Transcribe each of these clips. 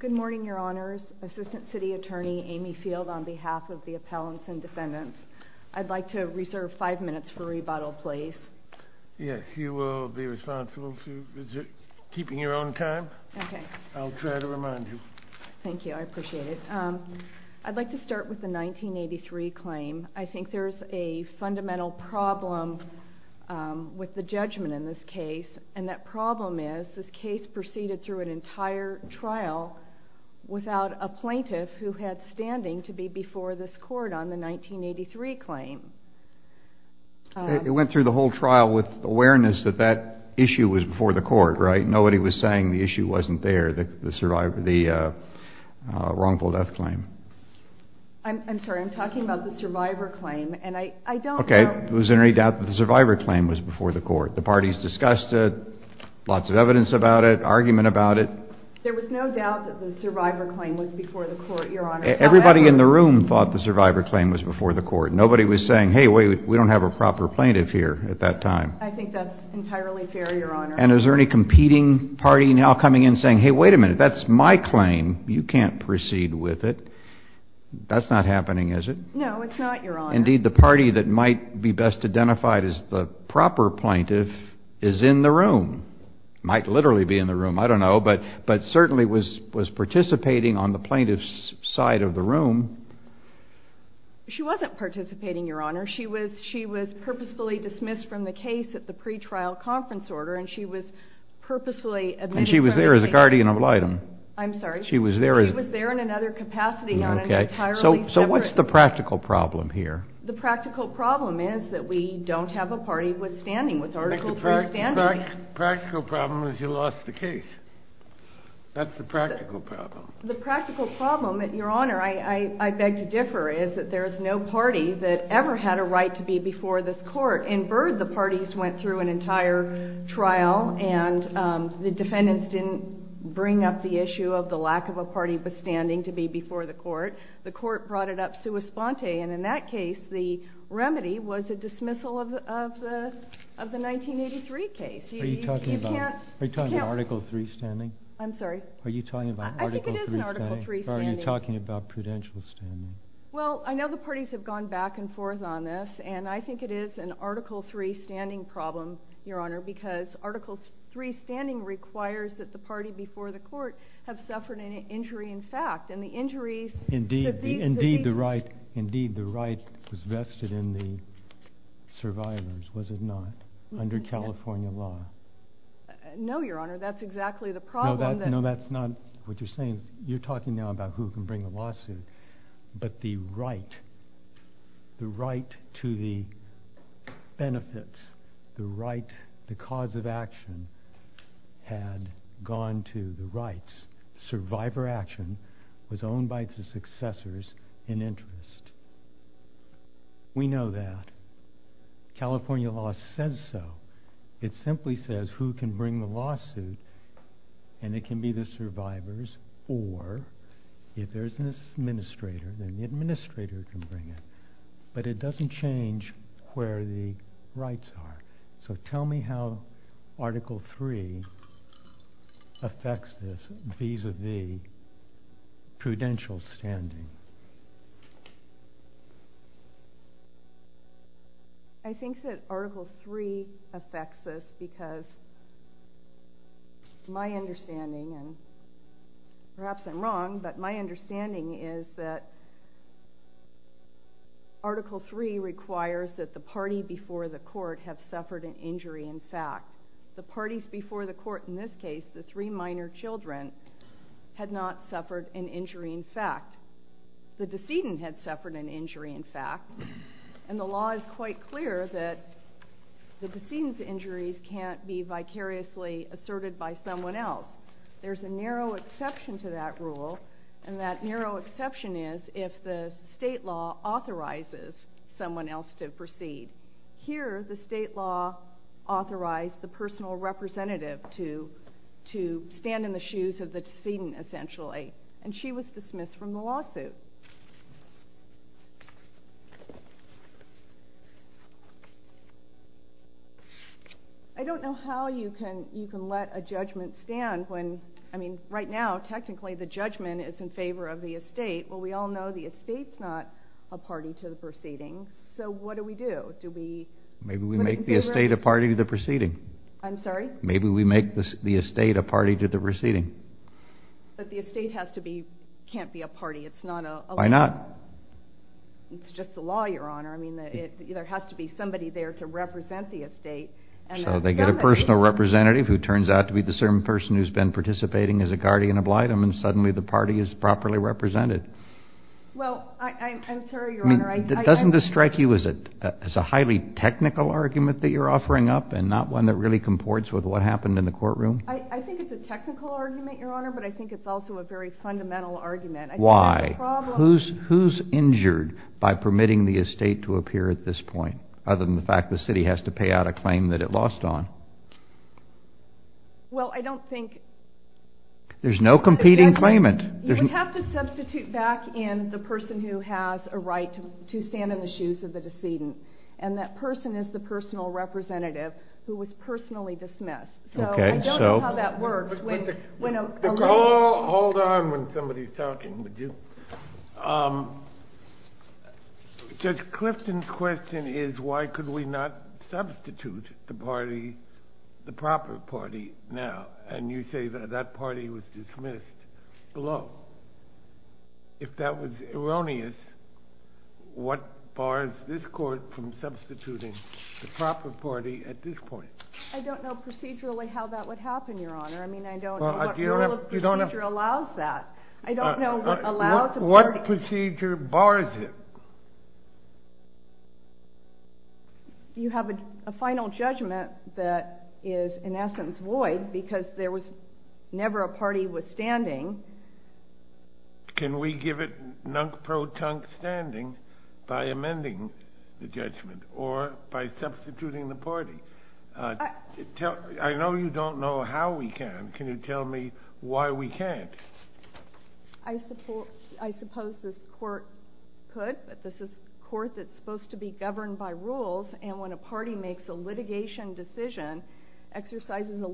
Good morning, Your Honors. Assistant City Attorney Amy Field on behalf of the Appellants and Defendants. I'd like to reserve five minutes for rebuttal, please. Yes, you will be responsible for keeping your own time. Okay. I'll try to remind you. Thank you. I appreciate it. I'd like to start with the 1983 claim. I think there's a fundamental problem with the judgment in this case, and that went through an entire trial without a plaintiff who had standing to be before this court on the 1983 claim. It went through the whole trial with awareness that that issue was before the court, right? Nobody was saying the issue wasn't there, the wrongful death claim. I'm sorry, I'm talking about the survivor claim, and I don't know... Okay, was there any doubt that the survivor claim was before the court, Your Honor? Everybody in the room thought the survivor claim was before the court. Nobody was saying, hey, we don't have a proper plaintiff here at that time. I think that's entirely fair, Your Honor. And is there any competing party now coming in saying, hey, wait a minute, that's my claim, you can't proceed with it. That's not happening, is it? No, it's not, Your Honor. Indeed, the party that might be best identified as the proper plaintiff is in the room. Might literally be in the room, I don't know, but certainly was participating on the plaintiff's side of the room. She wasn't participating, Your Honor. She was purposefully dismissed from the case at the pre-trial conference order, and she was purposely... And she was there as a guardian of litem? I'm sorry? She was there... She was there in another capacity on an entirely separate... So what's the practical problem here? The practical problem is that we don't have a party withstanding, with Article III standing. The practical problem is you lost the case. That's the practical problem. The practical problem, Your Honor, I beg to differ, is that there is no party that ever had a right to be before this court. In Byrd, the parties went through an entire trial, and the defendants didn't bring up the issue of the lack of a party withstanding to be before the court. The court brought it up sua sponte, and in that case, the remedy was a dismissal of the 1983 case. Are you talking about Article III standing? I'm sorry? Are you talking about Article III standing? I think it is an Article III standing. Or are you talking about prudential standing? Well, I know the parties have gone back and forth on this, and I think it is an Article III standing problem, Your Honor, because Article III standing requires that the party before the court have suffered an injury in fact. Indeed, the right was vested in the survivors, was it not, under California law? No, Your Honor, that's exactly the problem. No, that's not what you're saying. You're talking now about who can bring a lawsuit, but the right, the right to the benefits, the right, the cause of action had gone to the rights. Survivor action was owned by the successors in interest. We know that. California law says so. It simply says who can bring the lawsuit, and it can be the survivors, or if there's an administrator, then the administrator can bring it. But it doesn't change where the rights are. So tell me how Article III affects this vis-a-vis prudential standing. I think that Article III affects this because my understanding, and perhaps I'm wrong, but my understanding is that Article III requires that the party before the court have suffered an injury in fact. The parties before the court in this case, the three minor children, had not suffered an injury in fact. The decedent had suffered an injury in fact, and the law is quite clear that the decedent's injuries can't be vicariously asserted by someone else. There's a narrow exception to that rule, and that narrow exception is if the state law authorizes someone else to stand in the shoes of the decedent essentially, and she was dismissed from the lawsuit. I don't know how you can let a judgment stand when, I mean, right now technically the judgment is in favor of the estate, but we all know the estate's not a party to the proceedings, so what do we do? Maybe we make a judgment the estate a party to the proceeding. I'm sorry? Maybe we make the estate a party to the proceeding. But the estate has to be, can't be a party. It's not a... Why not? It's just the law, Your Honor. I mean, there has to be somebody there to represent the estate. So they get a personal representative who turns out to be the certain person who's been participating as a guardian oblitum, and suddenly the party is properly represented. Well, I'm sorry, Your Honor. Doesn't this strike you as a highly technical argument that you're offering up and not one that really comports with what happened in the courtroom? I think it's a technical argument, Your Honor, but I think it's also a very fundamental argument. Why? Who's injured by permitting the estate to appear at this point, other than the fact the city has to pay out a claim that it lost on? Well, I don't think... There's no competing claimant. You would have to substitute back in the person who has a right to stand in the shoes of the decedent, and that person is the personal representative who was personally dismissed. So I don't know how that works. Hold on when somebody's talking, would you? Judge Clifton's question is why could we not substitute the party, the proper party now? And you say that that party is dismissed below. If that was erroneous, what bars this court from substituting the proper party at this point? I don't know procedurally how that would happen, Your Honor. I mean, I don't know what rule of procedure allows that. I don't know what allows... What procedure bars it? You have a final judgment that is, in essence, void because there was never a standing. Can we give it nunk-pro-tunk standing by amending the judgment or by substituting the party? I know you don't know how we can. Can you tell me why we can't? I suppose this court could, but this is a court that's supposed to be governed by rules, and when a party makes a litigation decision, exercises a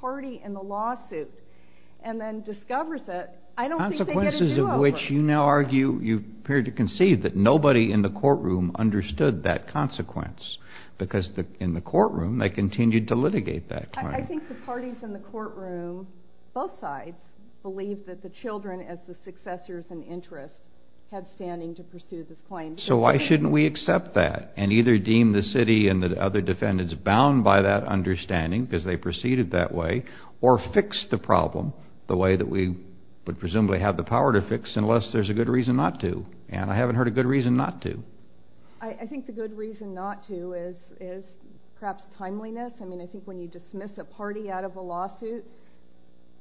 party in the lawsuit, and then discovers it, I don't think they get a do-over. Consequences of which you now argue, you appear to concede, that nobody in the courtroom understood that consequence because in the courtroom they continued to litigate that claim. I think the parties in the courtroom, both sides, believe that the children as the successors and interest had standing to pursue this claim. So why shouldn't we accept that and either deem the city and fix the problem the way that we would presumably have the power to fix unless there's a good reason not to? And I haven't heard a good reason not to. I think the good reason not to is perhaps timeliness. I mean, I think when you dismiss a party out of a lawsuit,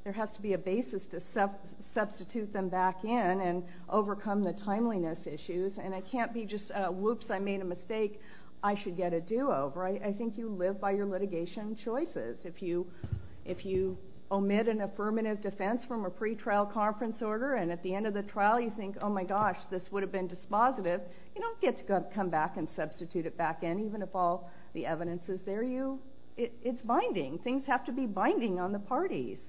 there has to be a basis to substitute them back in and overcome the timeliness issues, and it can't be just, whoops, I made a mistake, I should get a do-over. I think you live by your litigation choices. If you omit an affirmative defense from a pre-trial conference order and at the end of the trial you think, oh my gosh, this would have been dispositive, you don't get to come back and substitute it back in even if all the evidence is there. It's binding. Things have to be binding on the parties.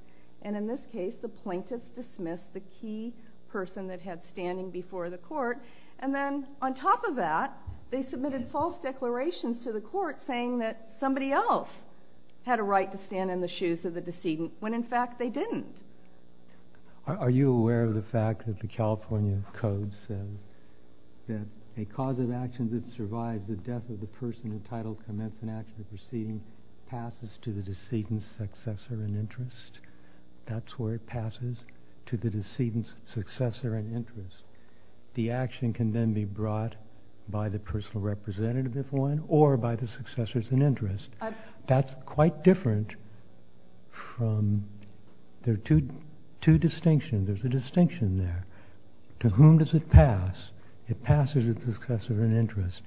And in this case, the plaintiffs dismissed the key person that had standing before the court, and then on top of that, they submitted false declarations to the court saying that they had a right to stand in the shoes of the decedent when in fact they didn't. Are you aware of the fact that the California Code says that a cause of action that survives the death of the person entitled to commence an action proceeding passes to the decedent's successor in interest? That's where it passes to the decedent's successor in interest. The action can then be brought by the personal representative, if one, or by the successor's in interest. That's quite different from, there are two distinctions, there's a distinction there. To whom does it pass? It passes to the successor in interest.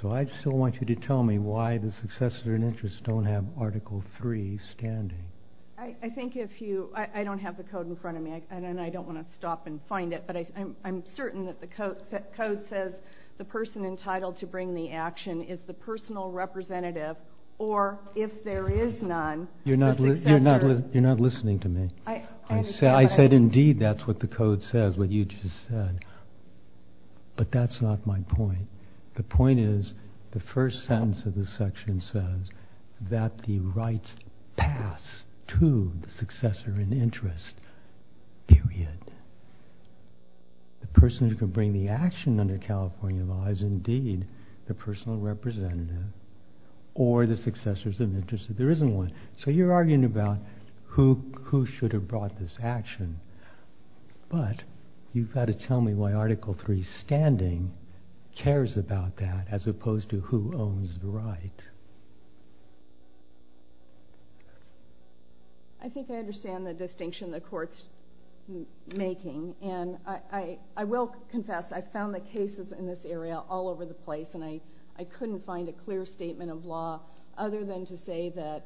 So I still want you to tell me why the successor in interest don't have Article III standing. I think if you, I don't have the code in front of me, and I don't want to stop and find it, but I'm certain that the Code says the person entitled to bring the You're not listening to me. I said indeed that's what the Code says, what you just said. But that's not my point. The point is, the first sentence of the section says that the rights pass to the successor in interest, period. The person who can bring the action under California law is indeed the personal representative, or the successor's in interest if there isn't one. So you're arguing about who should have brought this action, but you've got to tell me why Article III standing cares about that as opposed to who owns the right. I think I understand the distinction the Court's making, and I will confess I've found the cases in this area all over the place, and I couldn't find a clear statement of law other than to say that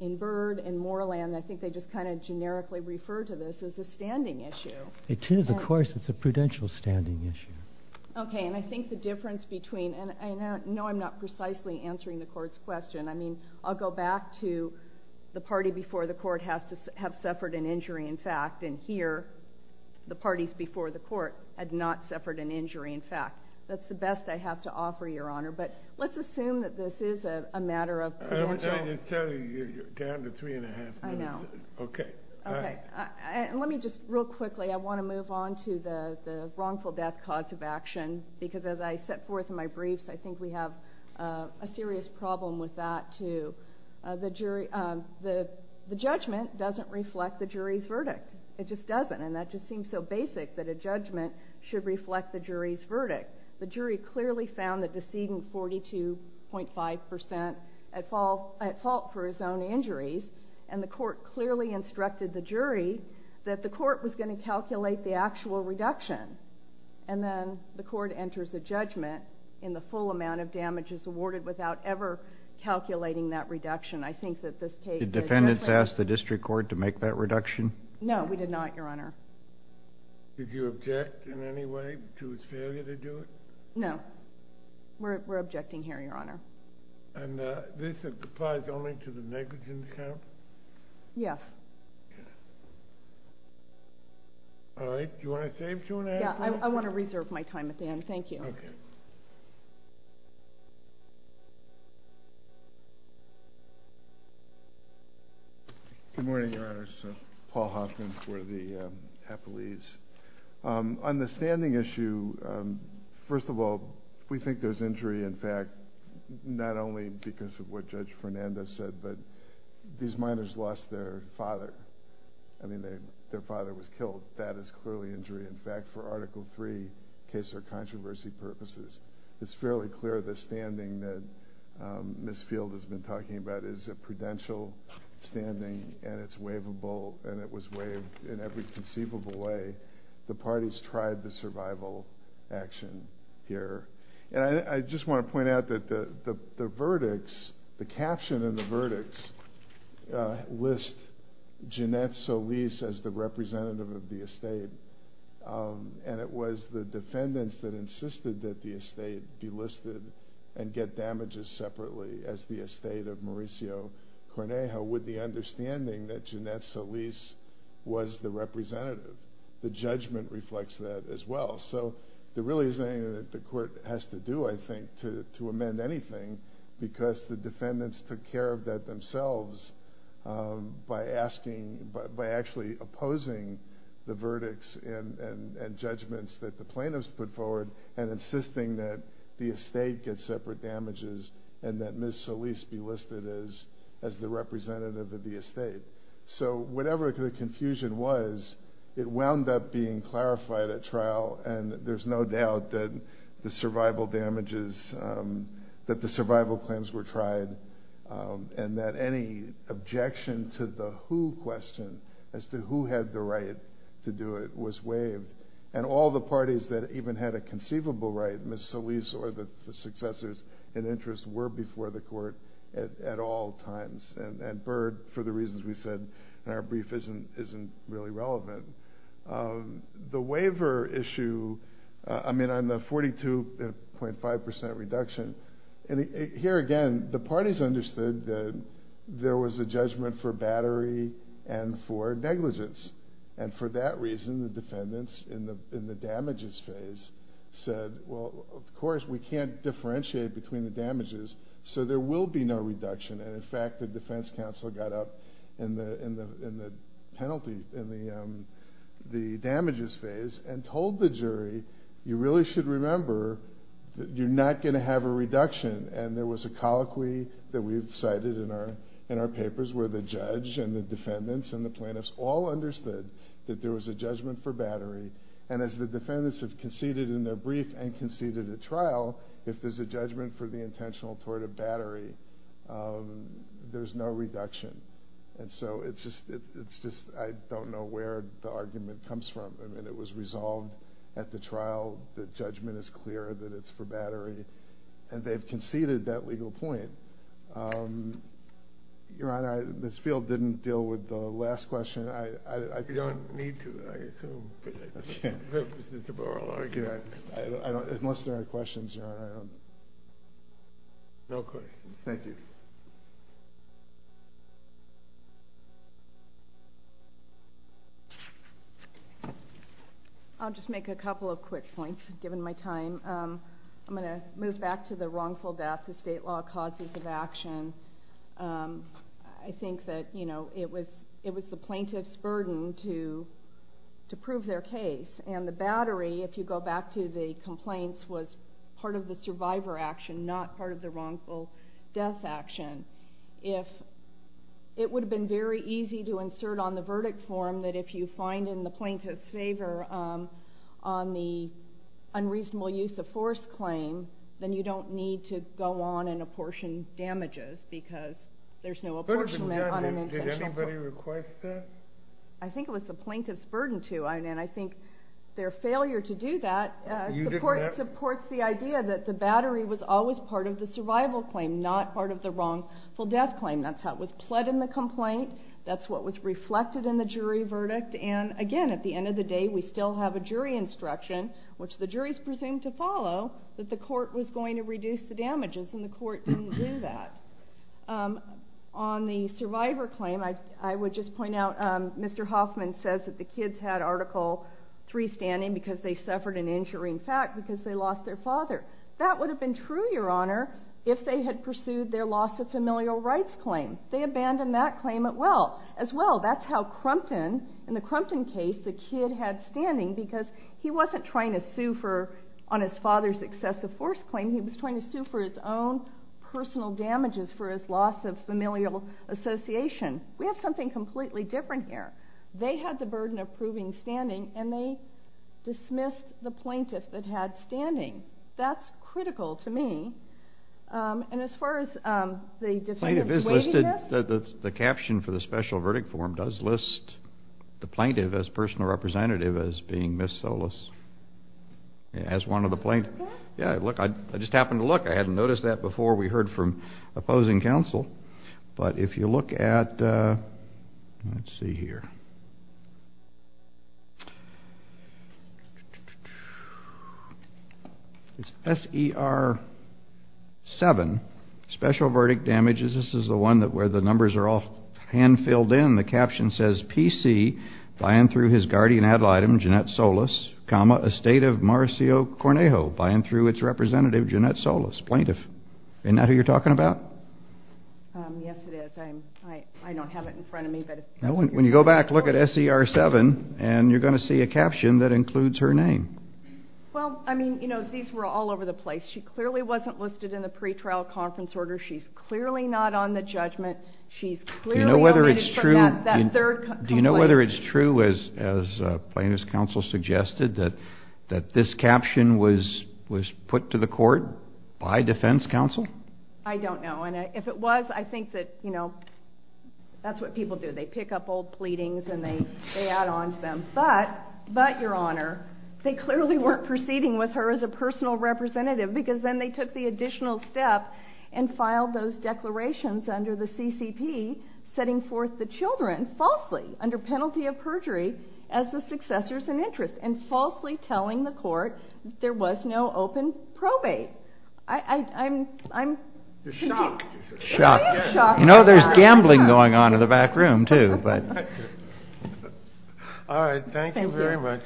in Byrd and Moorland, I think they just kind of generically refer to this as a standing issue. It is, of course. It's a prudential standing issue. Okay, and I think the difference between, and I know I'm not precisely answering the Court's question. I mean, I'll go back to the party before the Court have suffered an injury in fact, and here, the parties before the Court had not suffered an injury in fact. That's the best I have to offer, Your Honor. But let's assume that this is a matter of prudential... I'm telling you, you're down to three and a half minutes. I know. Okay. Okay. Let me just, real quickly, I want to move on to the wrongful death cause of action, because as I set forth in my briefs, I think we have a serious problem with that, too. The judgment doesn't reflect the jury's verdict. It just doesn't, and that just seems so basic that a judgment should reflect the jury's verdict. The jury clearly found the decedent 42.5% at fault for his own injuries, and the Court clearly instructed the jury that the Court was going to calculate the actual reduction, and then the Court enters a judgment in the full number, calculating that reduction. I think that this case... Did defendants ask the District Court to make that reduction? No, we did not, Your Honor. Did you object in any way to his failure to do it? No. We're objecting here, Your Honor. And this applies only to the negligence count? Yes. Yes. All right. Do you want to save two and a half minutes? Yeah, I want to reserve my time at the end. Thank you. Okay. Good morning, Your Honors. Paul Hoffman for the Appellees. On the standing issue, first of all, we think there's injury, in fact, not only because of what Judge Fernandez said, but these minors lost their father. I mean, their father was killed. That is clearly injury. In fact, for Article III case or controversy purposes, it's fairly clear the standing that Ms. Field has been talking about is a prudential standing, and it's waivable, and it was waived in every conceivable way. The parties tried the survival action here. And I just want to point out that the verdicts, the caption in the verdicts, lists Jeanette Solis as the representative of the estate, and it was the defendants that insisted that the estate be listed and get damages separately as the estate of Mauricio Cornejo with the understanding that Jeanette Solis was the representative. The judgment reflects that as well. So there really isn't anything that the court has to do, I think, to amend anything because the defendants took care of that themselves by actually opposing the verdicts and judgments that the plaintiffs put forward and insisting that the estate get separate damages and that Ms. Solis be listed as the representative of the estate. So whatever the confusion was, it wound up being clarified at trial, and there's no doubt that the survival damages, that the survival claims were tried and that any objection to the who question as to who had the right to do it was waived. And all the parties that even had a conceivable right, Ms. Solis or the successors in interest, were before the court at all times. And Byrd, for the reasons we said in our brief, isn't really relevant. The waiver issue, I mean, on the 42.5% reduction, here again, the parties understood that there was a judgment for battery and for negligence. And for that reason, the defendants in the damages phase said, well, of course we can't differentiate between the damages, so there will be no reduction. And in fact, the defense counsel got up in the penalties, in the damages phase, and told the jury, you really should remember that you're not going to have a reduction. And there was a colloquy that we've cited in our papers where the judge and the defendants and the plaintiffs all understood that there was a judgment for battery. And as the defendants have conceded in their brief and conceded at trial, if there's a judgment for the intentional tort of battery, there's no reduction. And so it's just, I don't know where the argument comes from. I mean, it was resolved at the trial that judgment is clear that it's for battery. And they've conceded that legal point. Your Honor, Ms. Field didn't deal with the last question. You don't need to, I assume. Unless there are questions, Your Honor. No questions. Thank you. I'll just make a couple of quick points, given my time. I'm going to move back to the wrongful death of state law causes of action. I think that it was the plaintiff's burden to prove their case. And the battery, if you go back to the complaints, was part of the survivor action, not part of the wrongful death action. It would have been very easy to insert on the verdict form that if you find in the plaintiff's favor on the unreasonable use of force claim, then you don't need to go on and apportion damages because there's no apportionment on an intentional tort. Did anybody request that? I think it was the plaintiff's burden to. And I think their failure to do that supports the idea that the battery was always part of the survival claim, not part of the wrongful death claim. That's how it was pled in the complaint. That's what was reflected in the jury verdict. And, again, at the end of the day, we still have a jury instruction, which the jury is presumed to follow, that the court was going to reduce the damages, and the court didn't do that. On the survivor claim, I would just point out Mr. Hoffman says that the kids had Article III standing because they suffered an injuring fact because they lost their father. That would have been true, Your Honor, if they had pursued their loss of familial rights claim. They abandoned that claim as well. That's how Crumpton, in the Crumpton case, the kid had standing because he wasn't trying to sue on his father's excessive force claim. He was trying to sue for his own personal damages for his loss of familial association. We have something completely different here. They had the burden of proving standing, and they dismissed the plaintiff that had standing. That's critical to me. Plaintiff is listed. The caption for the special verdict form does list the plaintiff as personal representative as being Ms. Solis, as one of the plaintiffs. Yeah, look, I just happened to look. I hadn't noticed that before we heard from opposing counsel. But if you look at, let's see here. It's SER7, special verdict damages. This is the one where the numbers are all hand-filled in. The caption says, PC, by and through his guardian ad litem, Jeanette Solis, comma, estate of Marcio Cornejo, by and through its representative, Jeanette Solis, plaintiff. Isn't that who you're talking about? Yes, it is. I don't have it in front of me. When you go back, look at SER7, and you're going to see a caption that includes her name. Well, I mean, you know, these were all over the place. She clearly wasn't listed in the pretrial conference order. She's clearly not on the judgment. She's clearly omitted from that third complaint. Do you know whether it's true, as plaintiff's counsel suggested, that this caption was put to the court by defense counsel? I don't know. And if it was, I think that, you know, that's what people do. They pick up old pleadings and they add on to them. But, Your Honor, they clearly weren't proceeding with her as a personal representative because then they took the additional step and filed those declarations under the CCP, setting forth the children falsely under penalty of perjury as the successors in interest and falsely telling the court that there was no open probate. I'm... You're shocked. Shocked. You know, there's gambling going on in the back room, too, but... All right. Thank you very much.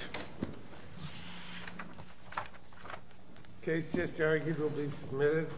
Thank you. The case is arguably submitted.